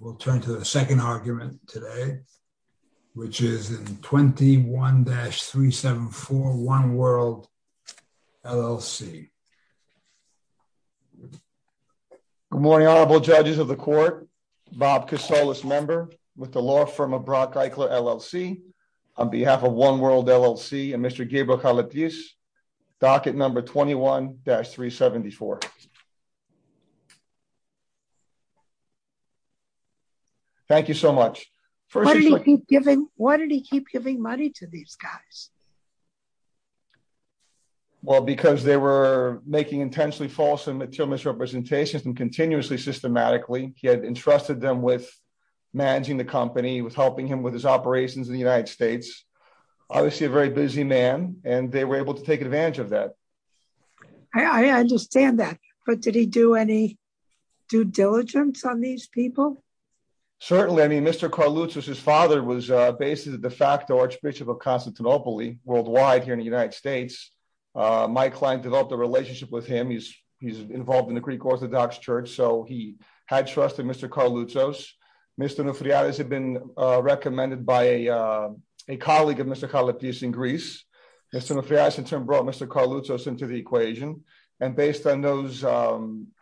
We'll turn to the second argument today, which is in 21-374 One World, LLC. Good morning, Honorable Judges of the Court. Bob Casoles, member with the law firm of Brock Eichler, LLC. On behalf of One World, LLC and Mr. Gabriel Carlitis, docket number 21-374. Thank you so much. Why did he keep giving money to these guys? Well, because they were making intensely false and material misrepresentations and continuously systematically. He had entrusted them with managing the company, with helping him with his operations in the United States. Obviously a very busy man, and they were able to take Certainly, I mean, Mr. Carlitos, his father was basically the de facto Archbishop of Constantinople worldwide here in the United States. My client developed a relationship with him. He's involved in the Greek Orthodox Church, so he had trusted Mr. Carlitos. Mr. Onoufriadis had been recommended by a colleague of Mr. Carlitis in Greece. Mr. Onoufriadis in turn brought Mr. Carlitos into the equation. And based on those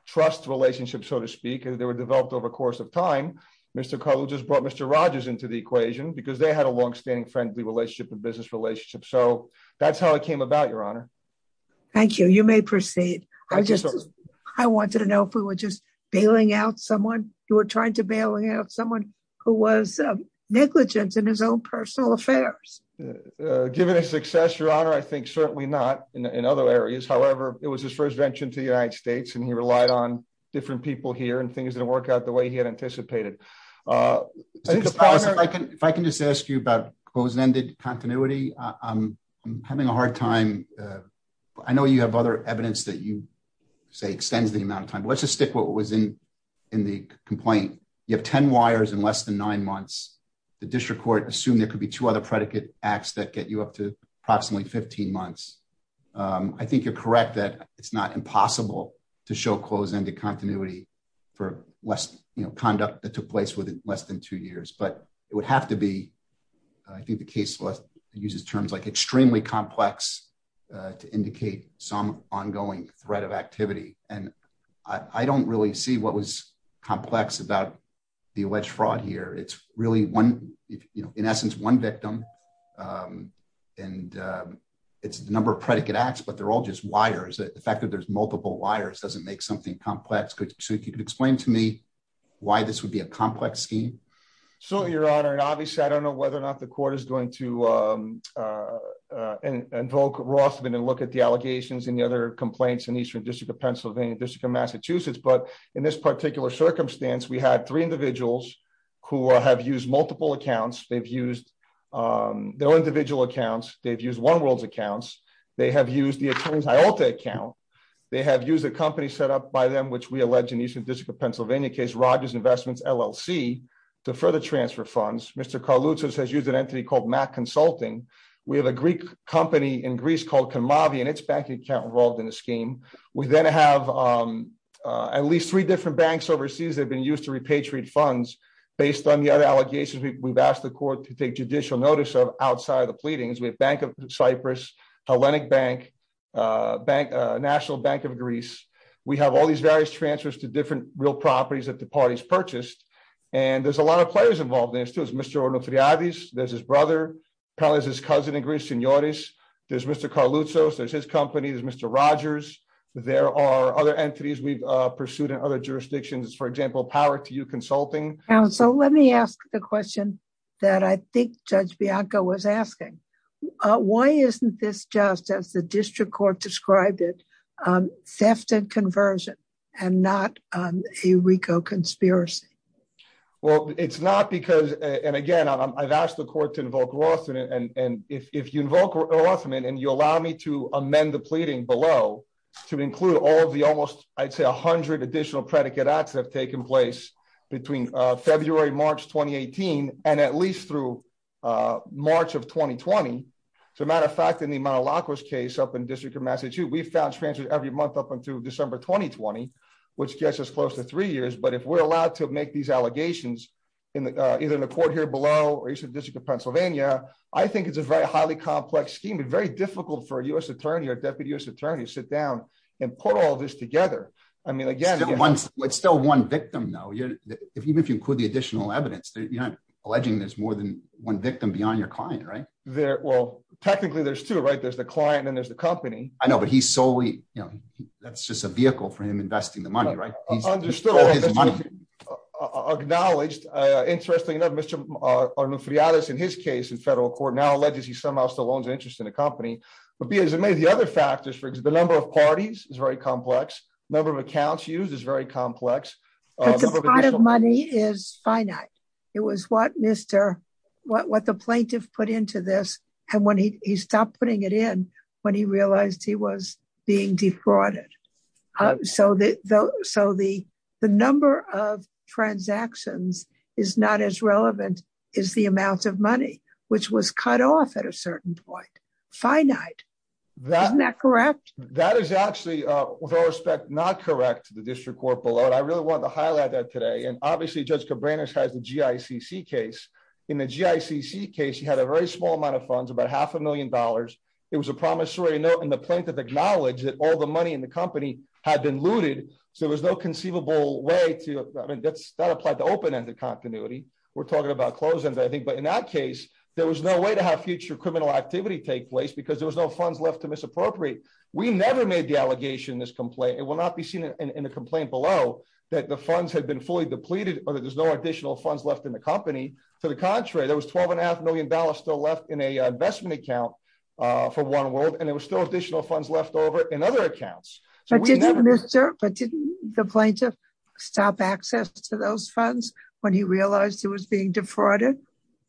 trust relationships, so to speak, they were developed over the course of time. Mr. Carlitos just brought Mr. Rogers into the equation because they had a longstanding friendly relationship and business relationship. So that's how it came about, Your Honor. Thank you. You may proceed. I just, I wanted to know if we were just bailing out someone, you were trying to bailing out someone who was negligent in his own personal affairs. Given his success, Your Honor, I think certainly not in other areas. However, it was his first venture into the United States and he relied on different people here and things didn't work out the way he had anticipated. If I can just ask you about close-ended continuity, I'm having a hard time. I know you have other evidence that you say extends the amount of time. Let's just stick with what was in the complaint. You have 10 wires in less than nine months. The district court assumed there could be two other predicate acts that get you up to approximately 15 months. I think you're correct that it's not impossible to show close-ended continuity for conduct that took place within less than two years. But it would have to be, I think the case uses terms like extremely complex to indicate some ongoing threat of activity. And I don't really see what was complex about the alleged fraud here. It's really one, in essence, one victim. And it's the number of predicate acts, but they're all just wires. The fact that there's multiple wires doesn't make something complex. So if you could explain to me why this would be a complex scheme. So your honor, and obviously I don't know whether or not the court is going to invoke Rothman and look at the allegations and the other complaints in Eastern District of Pennsylvania, District of Massachusetts. But in this particular circumstance, we had three individuals who have used multiple accounts. They've used their individual accounts. They've used One World's accounts. They have used the attorney's IALTA account. They have used a company set up by them, which we allege in Eastern District of Pennsylvania case, Rogers Investments, LLC, to further transfer funds. Mr. Carloutsas has used an entity called Mack Consulting. We have a Greek company in Greece called Kamavi and its banking account involved in the scheme. We then have at least three different banks overseas that have been used to repatriate funds based on the other allegations we've asked the court to take Cyprus, Hellenic Bank, National Bank of Greece. We have all these various transfers to different real properties that the parties purchased. And there's a lot of players involved in this too. There's Mr. Ornotriades, there's his brother, his cousin in Greece, Senores. There's Mr. Carloutsas, there's his company, there's Mr. Rogers. There are other entities we've pursued in other jurisdictions, for example, Power to You Consulting. So let me ask the question that I think Judge Bianco was asking. Why isn't this just, as the district court described it, theft and conversion and not a RICO conspiracy? Well, it's not because, and again, I've asked the court to invoke Rothman. And if you invoke Rothman and you allow me to amend the pleading below to include all of the almost, I'd say a hundred additional predicate acts that have taken place between February, March 2018, and at least through March of 2020. As a matter of fact, in the Manolakos case up in the District of Massachusetts, we found transfers every month up until December 2020, which gets us close to three years. But if we're allowed to make these allegations either in the court here below or in the District of Pennsylvania, I think it's a very highly complex scheme and very difficult for a U.S. attorney or a deputy U.S. attorney to sit down and put all this together. I mean, again, it's still one victim though. Even if you include the additional evidence, you're not alleging there's more than one victim beyond your client, right? Well, technically there's two, right? There's the client and there's the company. I know, but he's solely, you know, that's just a vehicle for him investing the money, right? Acknowledged. Interestingly enough, Mr. Arnufriades in his case in federal court now alleges he somehow still owns interest in the company. But be as amazed, the other factors, the number of parties is very complex. Number of accounts used is very complex. The amount of money is finite. It was what the plaintiff put into this, and when he stopped putting it in, when he realized he was being defrauded. So the number of transactions is not as relevant as the amount of money, which was cut off at a certain point. Finite. Isn't that correct? That is actually, with all respect, not correct to the district court below. And I really wanted to highlight that today. And obviously Judge Cabranes has the GICC case. In the GICC case, he had a very small amount of funds, about half a million dollars. It was a promissory note and the plaintiff acknowledged that all the money in the company had been looted. So there was no conceivable way to, I mean, that's not applied to open-ended continuity. We're talking about closed-ended, I think. But in that case, there was no way to have future criminal activity take place because there was no funds left to misappropriate. We never made the allegation in this complaint. It will not be seen in the complaint below that the funds had been fully depleted or that there's no additional funds left in the company. To the contrary, there was 12 and a half million dollars still left in a investment account for One World, and there was still additional funds left over in other accounts. But didn't the plaintiff stop access to those funds when he realized he was being defrauded?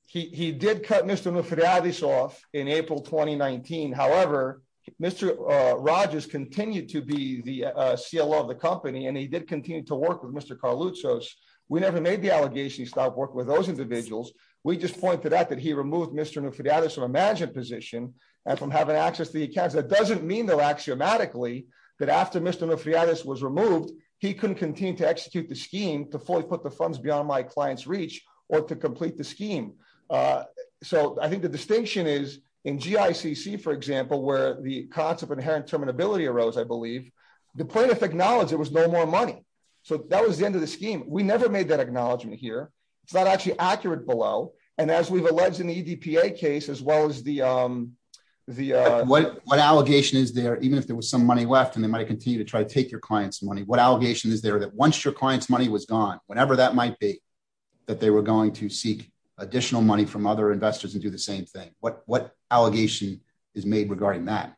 He did cut Mr. Nufriadis off in April 2019. However, Mr. Rogers continued to be the CLO of the company and he did continue to work with Mr. Carluzos. We never made the allegation he stopped working with those individuals. We just pointed out that he removed Mr. Nufriadis from a management position and from having access to the accounts. That doesn't mean, though, axiomatically, that after Mr. Nufriadis was removed, he couldn't continue to execute the scheme to fully put the funds beyond my client's reach or to complete the scheme. So I think the distinction is in GICC, for example, where the concept of inherent terminability arose, I believe, the plaintiff acknowledged there was no more money. So that was the end of the scheme. We never made that acknowledgement here. It's not actually accurate below. And as we've alleged in the EDPA case, as well as the... What allegation is there, even if there was some money left and they might continue to try to take your client's money, what allegation is there that once your client's money was gone, whenever that might be, that they were going to seek additional money from other investors and do the same thing? What allegation is made regarding that?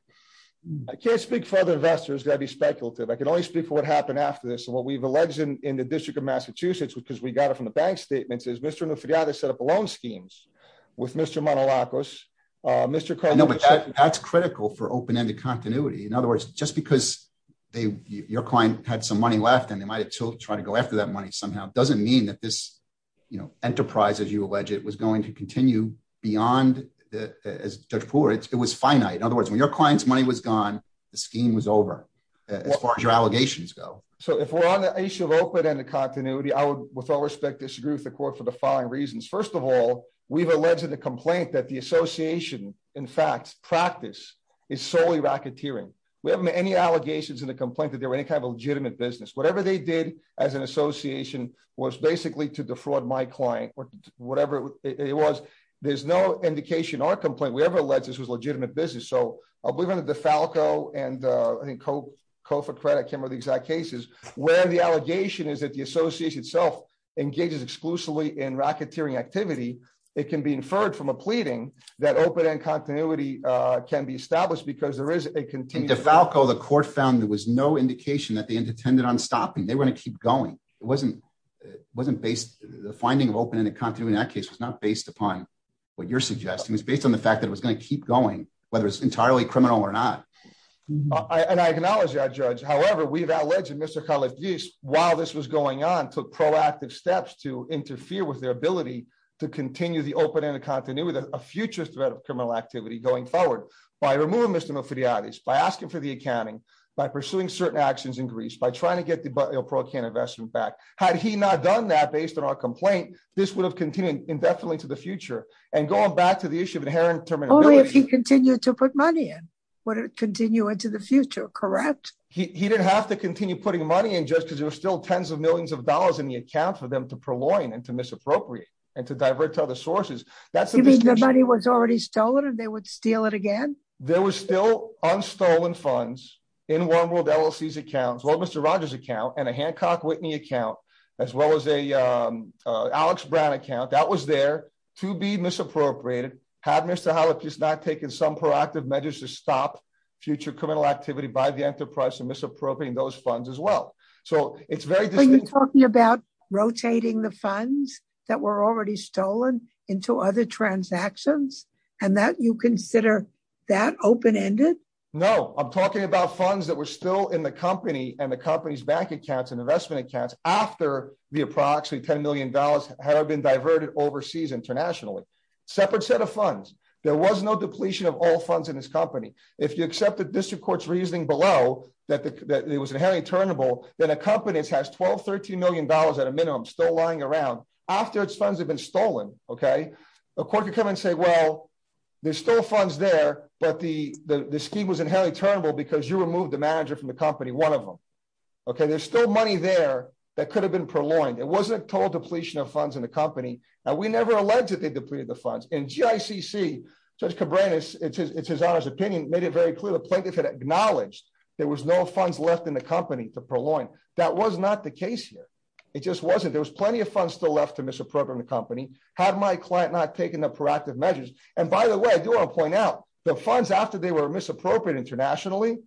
I can't speak for other investors. I'd be speculative. I can only speak for what happened after this and what we've alleged in the District of Massachusetts, because we got it from the bank statements, is Mr. Nufriadis set up loan schemes with Mr. Manolacos. No, but that's critical for open-ended continuity. In other words, just because your client had some money left and they might've tried to go after that money somehow doesn't mean that this enterprise, as you allege it, was going to continue beyond, as Judge Poole writes, it was finite. In other words, when your client's money was gone, the scheme was over, as far as your allegations go. So if we're on the issue of open-ended continuity, I would, with all respect, disagree with the court for the following reasons. First of all, we've alleged in the complaint that the association, in fact, practice is solely racketeering. We haven't made any allegations in the complaint that there were any kind of legitimate business. Whatever they did as an association was basically to defraud my client or whatever it was. There's no indication or complaint. We ever alleged this was legitimate business. So I'll believe under DeFalco and I think Cofacredit, I can't remember the exact cases, where the allegation is that the association itself engages exclusively in racketeering activity. It can be inferred from a pleading that open-ended continuity can be established because there is a continued- In DeFalco, the court found there was no indication that they intended on stopping. They were going to keep going. It wasn't based, the finding of open-ended continuity in that case was not based upon what you're suggesting. It was based on the fact that it was going to keep going, whether it's entirely criminal or not. And I acknowledge that, Judge. However, we've alleged that Mr. Calagese, while this was going on, took proactive steps to interfere with their ability to continue the open-ended continuity with a future threat of criminal activity going forward by removing Mr. Mofidiotis, by asking for the accounting, by pursuing certain actions in Greece, by trying to get the pro-can investment back. Had he not done that based on our complaint, this would have continued indefinitely to the future. And going back to the issue of inherent terminability- Only if he continued to put money in, would it continue into the future, correct? He didn't have to continue putting money in, because there were still tens of millions of dollars in the account for them to prolong and to misappropriate and to divert to other sources. That's- You mean the money was already stolen and they would steal it again? There were still unstolen funds in One World LLC's account, well, Mr. Rogers' account, and a Hancock Whitney account, as well as an Alex Brown account. That was there to be misappropriated. Had Mr. Calagese not taken some proactive measures to stop future criminal activity by the enterprise in misappropriating those funds as well. So it's very distinct- Are you talking about rotating the funds that were already stolen into other transactions, and that you consider that open-ended? No, I'm talking about funds that were still in the company and the company's bank accounts and investment accounts after the approximately $10 million had been diverted overseas internationally. Separate set of funds. There was no depletion of all funds in this company. If you accept the district court's turnable, then a company that has $12, $13 million at a minimum still lying around, after its funds have been stolen, a court could come and say, well, there's still funds there, but the scheme was inherently turnable because you removed the manager from the company, one of them. There's still money there that could have been prolonged. It wasn't a total depletion of funds in the company, and we never alleged that they depleted the funds. In GICC, Judge Cabrera, it's his honor's opinion, made it very clear the plaintiff had acknowledged there was no funds left in the company to prolong. That was not the case here. It just wasn't. There was plenty of funds still left to misappropriate in the company. Had my client not taken the proactive measures? By the way, I do want to point out, the funds after they were misappropriated internationally,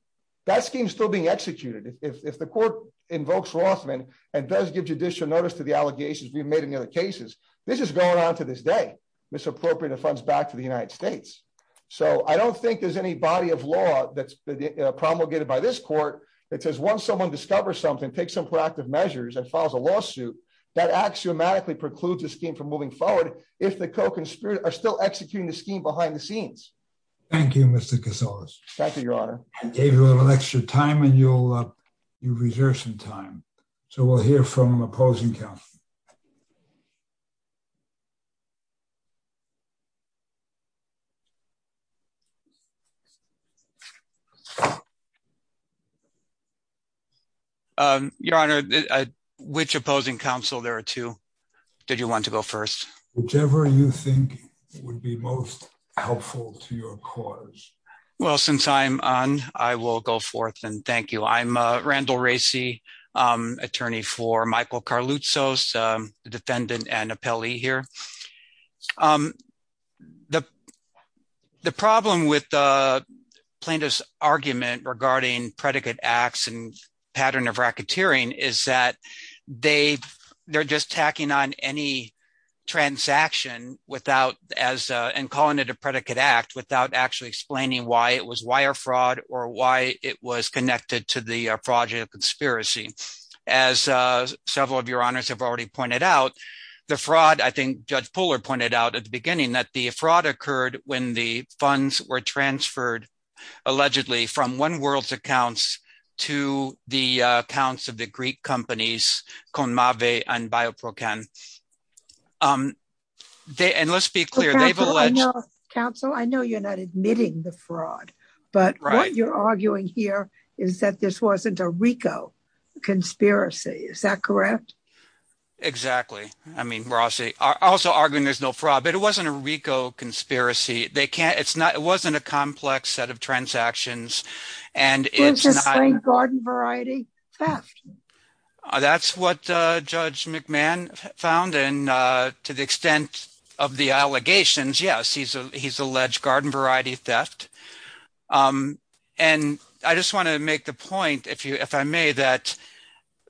that scheme's still being executed. If the court invokes Rothman and does give judicial notice to the allegations we've made in the other cases, this is going on to this day, misappropriated funds back to the this court that says once someone discovers something, takes some proactive measures, and files a lawsuit, that axiomatically precludes the scheme from moving forward if the co-conspirators are still executing the scheme behind the scenes. Thank you, Mr. Casillas. Thank you, Your Honor. David, we'll have an extra time, and you'll reserve some time. So we'll hear from opposing counsel. Your Honor, which opposing counsel? There are two. Did you want to go first? Whichever you think would be most helpful to your cause. Well, since I'm on, I will go forth, and thank you. I'm Randall Racey, attorney for Michael Carluzos, the defendant and appellee here. The problem with the plaintiff's argument regarding predicate acts and pattern of racketeering is that they're just tacking on any transaction and calling it a predicate act without actually explaining why it was wire fraud or why it was connected to the fraudulent at the beginning, that the fraud occurred when the funds were transferred, allegedly, from One World's accounts to the accounts of the Greek companies, Conmave and Bioprocan. And let's be clear, they've alleged... Counsel, I know you're not admitting the fraud, but what you're arguing here is that this wasn't a RICO conspiracy. Is that correct? Exactly. I mean, we're also arguing there's no fraud, but it wasn't a RICO conspiracy. It wasn't a complex set of transactions, and it's... You're just saying garden variety theft. That's what Judge McMahon found, and to the extent of the allegations, yes, he's alleged garden variety theft. And I just want to make the point, if I may, that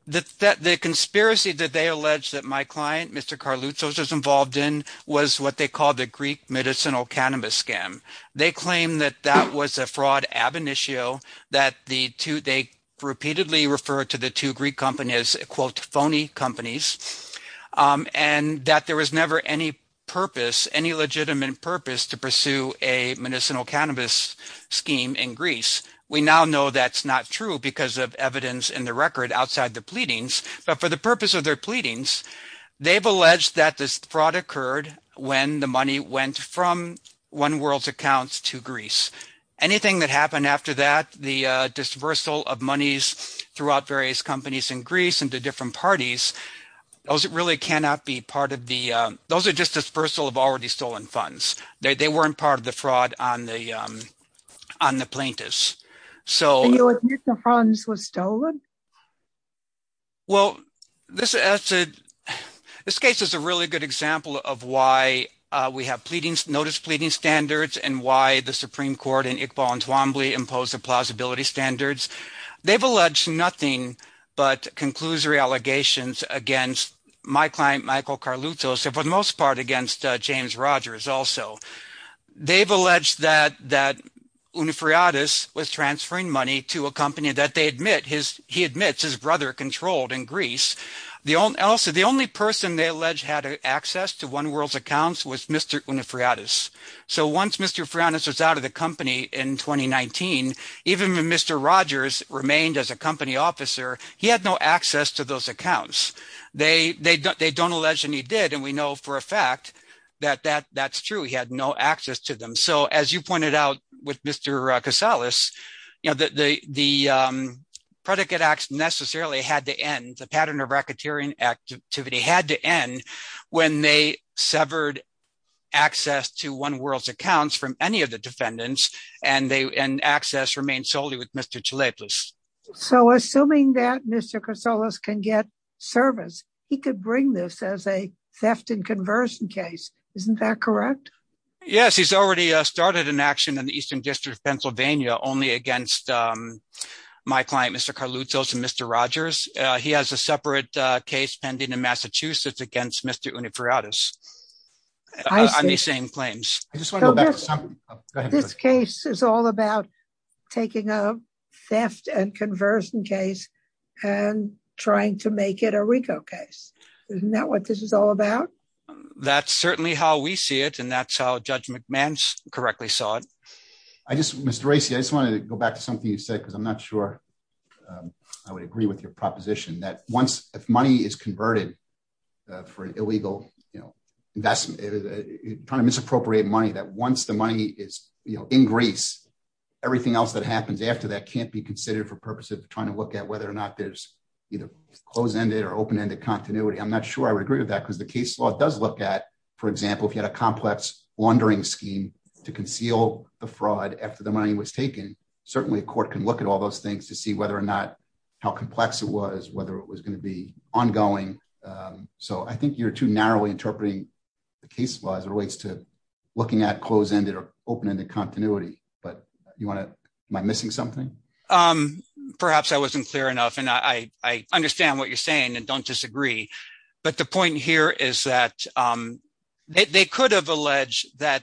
the conspiracy that they alleged that my client, Mr. Carluzos, was involved in was what they call the Greek medicinal cannabis scam. They claim that that was a fraud ab initio, that they repeatedly referred to the two Greek companies, quote, phony companies, and that there was never any purpose, any legitimate purpose to pursue a medicinal cannabis scheme in Greece. We now know that's not true because of evidence in the record outside the pleadings, but for the purpose of their pleadings, they've alleged that this fraud occurred when the money went from One World's accounts to Greece. Anything that happened after that, the disbursal of monies throughout various companies in Greece and to different parties, those really cannot be part of the... Those are just disbursal of already stolen funds. They weren't part of the fraud on the plaintiffs. So... Well, this case is a really good example of why we have notice pleading standards and why the Supreme Court and Iqbal Entwambly impose the plausibility standards. They've alleged nothing but conclusory allegations against my client, Michael Carluzos, and for the most part against James Rogers also. They've alleged that Unifriadis was transferring money to a company that he admits his brother controlled in Greece. Also, the only person they allege had access to One World's accounts was Mr. Unifriadis. So once Mr. Unifriadis was out of the company in 2019, even when Mr. Rogers remained as a company officer, he had no access to those accounts. They don't allege and he did, and we know for a fact that that's true. He had no access to them. So as you pointed out with Mr. Kosalas, the predicate acts necessarily had to end, the pattern of racketeering activity had to end when they severed access to One World's accounts from any of the defendants and access remained solely with Mr. Chalepis. So assuming that Mr. Kosalas can get service, he could bring this as a theft and conversion case. Isn't that correct? Yes, he's already started an action in the Eastern District of Pennsylvania only against my client, Mr. Carluccios and Mr. Rogers. He has a separate case pending in Massachusetts against Mr. Unifriadis on the same claims. This case is all about taking a theft and conversion case and trying to make it a RICO case. Isn't that what this is all about? That's certainly how we see it and that's how Judge McMann correctly saw it. Mr. Racey, I just wanted to go back to something you said, because I'm not sure I would agree with your proposition that once if money is converted for an illegal investment, trying to misappropriate money, that once the money is in Greece, everything else that happens after that can't be considered for purposes of trying to look at whether or not there's either closed-ended or open-ended continuity. I'm not sure I would agree with that, because the case law does look at, for example, if you had a complex laundering scheme to conceal the fraud after the money was taken, certainly a court can look at all those things to see whether or not how complex it was, whether it was going to be ongoing. So I think you're too narrowly interpreting the case law as it relates to looking at closed-ended or open-ended continuity. Am I missing something? Perhaps I wasn't clear enough and I understand what you're saying and don't disagree, but the point here is that they could have alleged that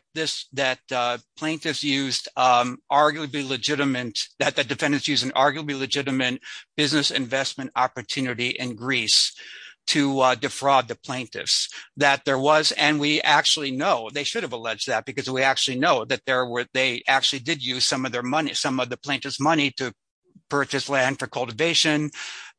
plaintiffs used arguably legitimate, that the defendants used an arguably legitimate business investment opportunity in Greece to defraud the plaintiffs, that there was, and we actually know they should have alleged that, because we actually know that they actually did use some of their money, some of the plaintiff's purchase land for cultivation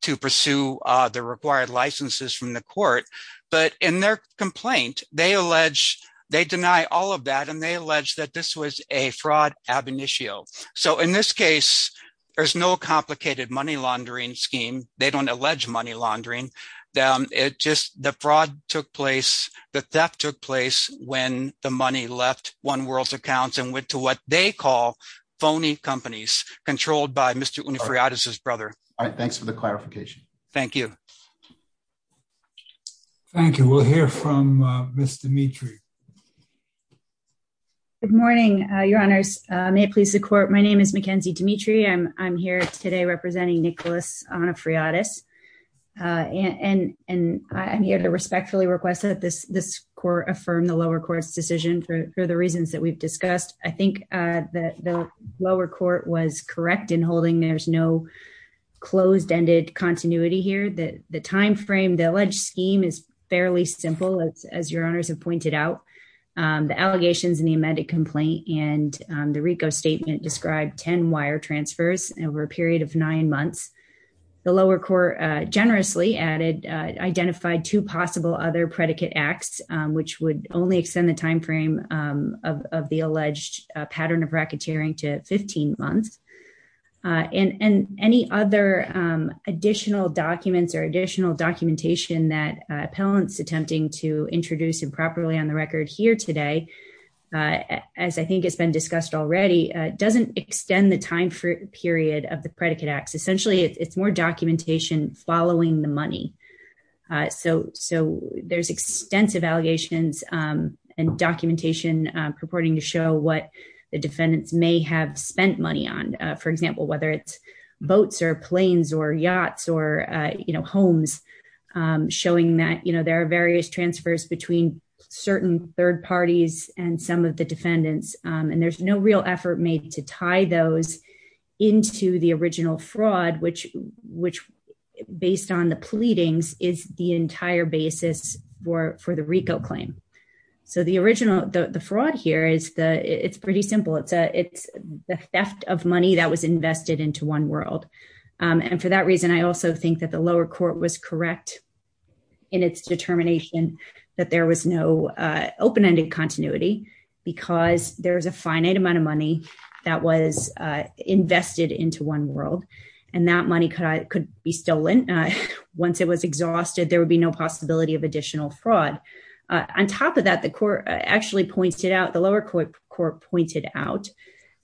to pursue the required licenses from the court, but in their complaint, they allege, they deny all of that and they allege that this was a fraud ab initio. So in this case, there's no complicated money laundering scheme. They don't allege money laundering. It just, the fraud took place, the theft took place when the money left One World's by Mr. Onufriadis' brother. All right, thanks for the clarification. Thank you. Thank you. We'll hear from Ms. Dimitri. Good morning, your honors. May it please the court, my name is Mackenzie Dimitri. I'm here today representing Nicholas Onufriadis and I'm here to respectfully request that this court affirm the lower court's decision for the reasons that we've discussed. I think that the lower court was correct in holding there's no closed ended continuity here. The timeframe, the alleged scheme is fairly simple, as your honors have pointed out. The allegations in the amended complaint and the RICO statement described 10 wire transfers over a period of nine months. The lower court generously added, identified two possible other predicate acts, which would only extend the timeframe of the alleged pattern of racketeering to 15 months. And any other additional documents or additional documentation that appellant's attempting to introduce improperly on the record here today, as I think has been discussed already, doesn't extend the time period of the predicate acts. Essentially, it's more documentation following the money. So there's extensive allegations and documentation purporting to show what the defendants may have spent money on. For example, whether it's boats or planes or yachts or homes, showing that there are various transfers between certain third parties and some of the defendants. And there's no real effort made to tie those into the original fraud, which based on the pleadings, is the entire basis for the RICO claim. So the fraud here, it's pretty simple. It's the theft of money that was invested into One World. And for that reason, I also think that the lower court was correct in its determination that there was no open ended continuity, because there's a finite amount of money that was invested into One World. And that money could be stolen. Once it was exhausted, there would be no possibility of additional fraud. On top of that, the court actually pointed out, the lower court pointed out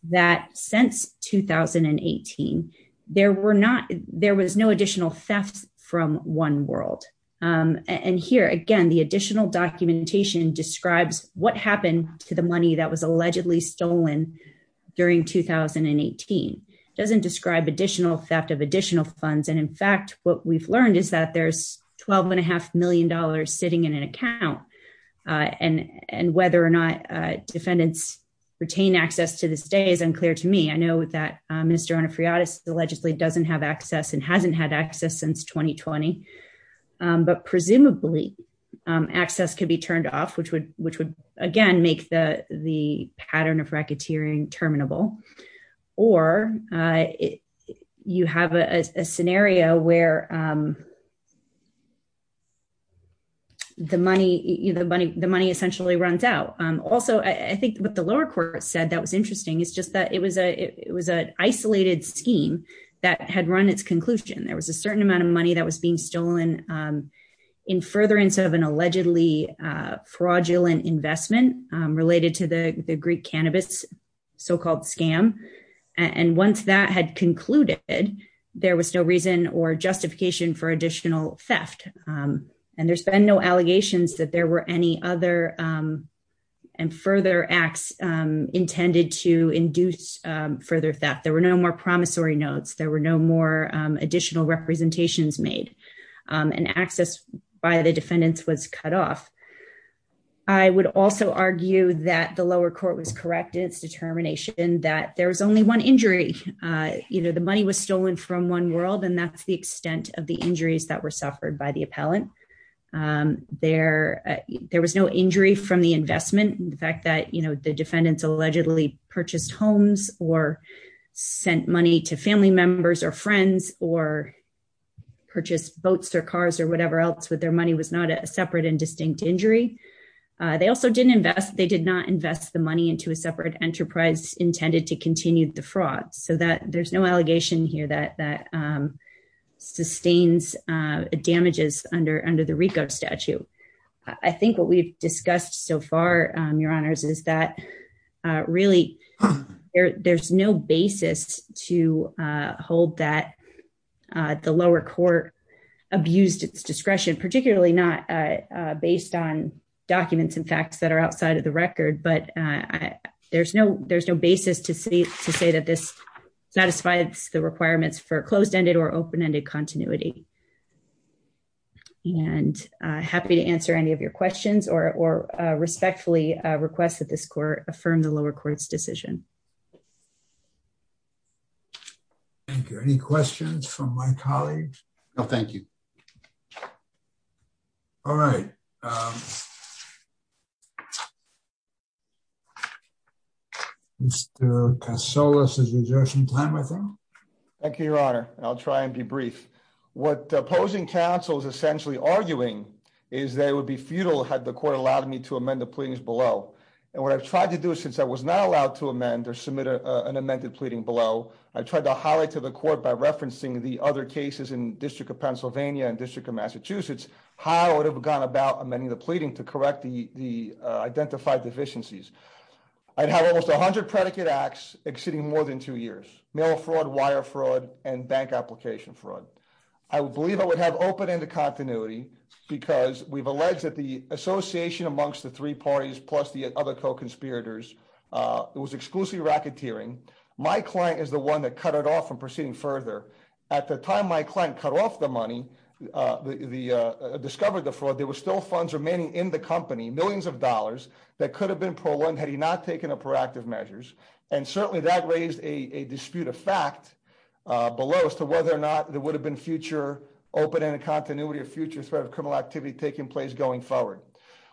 that since 2018, there was no additional theft from One World. And here again, the additional documentation describes what happened to the during 2018. It doesn't describe additional theft of additional funds. And in fact, what we've learned is that there's 12 and a half million dollars sitting in an account. And whether or not defendants retain access to this day is unclear to me. I know that Mr. Onofriadis allegedly doesn't have access and hasn't had access since 2020. But presumably, access could be turned off, which would, again, make the pattern of racketeering terminable. Or you have a scenario where the money essentially runs out. Also, I think what the lower court said that was interesting is just that it was an isolated scheme that had run its conclusion. There was a certain amount that was being stolen in furtherance of an allegedly fraudulent investment related to the Greek cannabis, so-called scam. And once that had concluded, there was no reason or justification for additional theft. And there's been no allegations that there were any other and further acts intended to induce further theft. There were no more promissory notes. There were no more additional representations made. And access by the defendants was cut off. I would also argue that the lower court was correct in its determination that there was only one injury. The money was stolen from One World, and that's the extent of the injuries that were suffered by the appellant. There was no injury from the investment. The fact that the defendants allegedly purchased homes or sent money to family members or friends or purchased boats or cars or whatever else with their money was not a separate and distinct injury. They also did not invest the money into a separate enterprise intended to continue the fraud. So, there's no allegation here that sustains damages under the RICO statute. I think what we've really heard is that there's no basis to hold that the lower court abused its discretion, particularly not based on documents and facts that are outside of the record. But there's no basis to say that this satisfies the requirements for closed-ended or open-ended continuity. And I'm happy to answer any of your questions or respectfully request that this court affirm the lower court's decision. Thank you. Any questions from my colleagues? No, thank you. All right. Mr. Kasolis, is there some time left? Thank you, Your Honor. I'll try and be brief. What opposing counsel is essentially arguing is that it would be futile had the court allowed me to amend the pleadings below. And what I've tried to do since I was not allowed to amend or submit an amended pleading below, I tried to highlight to the court by referencing the other cases in District of Pennsylvania and District of Massachusetts how it would have gone about amending the pleading to correct the identified deficiencies. I'd have almost 100 predicate acts exceeding more than two years, mail fraud, wire fraud, and bank application fraud. I believe I would have open-ended continuity because we've alleged that the association amongst the three parties plus the other co-conspirators was exclusively racketeering. My client is the one that cut it off from proceeding further. At the time my client cut off the money, discovered the fraud, there were still funds remaining in the company, millions of dollars that could have been prolonged had he not taken a proactive measures. And certainly that raised a dispute of fact below as to whether or not there would have been future open-ended continuity or future threat of criminal activity taking place going forward.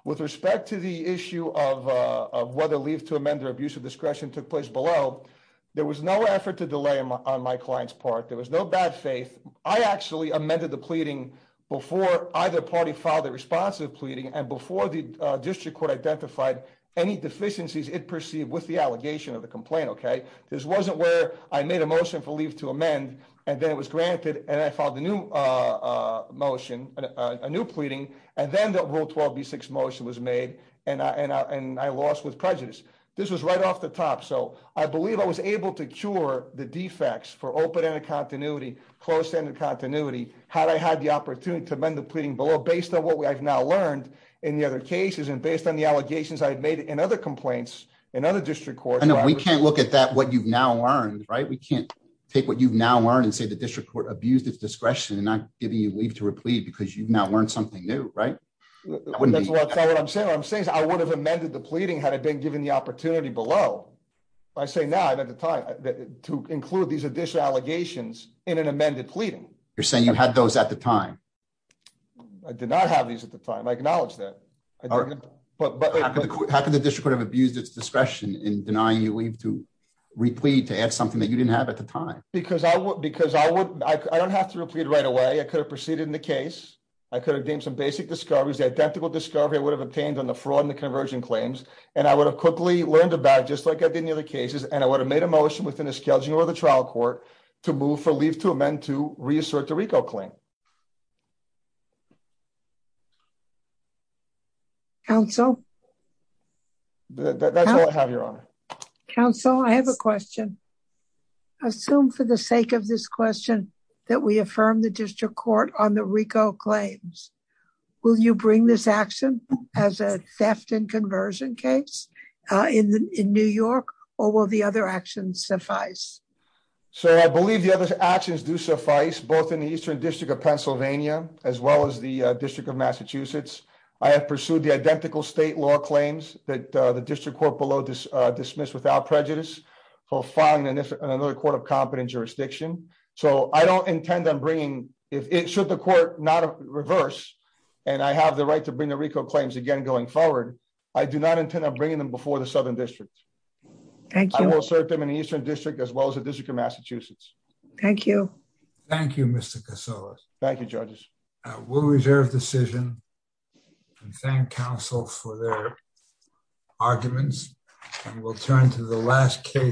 With respect to the issue of whether leave to amend their abuse of discretion took place below, there was no effort to delay on my client's part. There was no bad faith. I actually amended the pleading before either party filed a pleading and before the district court identified any deficiencies it perceived with the allegation of the complaint. This wasn't where I made a motion for leave to amend and then it was granted and I filed a new motion, a new pleading, and then the rule 12b6 motion was made and I lost with prejudice. This was right off the top. So I believe I was able to cure the defects for open-ended continuity, closed-ended continuity, had I had the opportunity to amend the pleading below based on what I've now learned in the other cases and based on the allegations I had made in other complaints in other district courts. I know we can't look at that what you've now learned, right? We can't take what you've now learned and say the district court abused its discretion and not giving you leave to replead because you've now learned something new, right? That's not what I'm saying. What I'm saying is I would have amended the pleading had it been given the opportunity below. I say now and at the time to include these additional allegations in an amended pleading. You're saying you had those at the time. I did not have these at the time. I acknowledge that. How could the district have abused its discretion in denying you leave to replead to add something that you didn't have at the time? Because I don't have to replead right away. I could have proceeded in the case. I could have gained some basic discoveries. The identical discovery I would have obtained on the fraud and the conversion claims and I would have quickly learned about just like I did in the other cases and I would have made a motion within the trial court to move for leave to amend to reassert the RICO claim. Counsel? That's all I have, Your Honor. Counsel, I have a question. Assume for the sake of this question that we affirm the district court on the RICO claims. Will you bring this action as a theft and conversion case in New York or will the other actions suffice? Sir, I believe the other actions do suffice both in the Eastern District of Pennsylvania as well as the District of Massachusetts. I have pursued the identical state law claims that the district court below dismissed without prejudice for filing in another court of competent jurisdiction. So I don't intend on bringing if it should the court not reverse and I have the right to bring claims again going forward. I do not intend on bringing them before the Southern District. Thank you. I will assert them in the Eastern District as well as the District of Massachusetts. Thank you. Thank you, Mr. Casillas. Thank you, judges. We'll reserve decision and thank counsel for their arguments and we'll turn to the last case.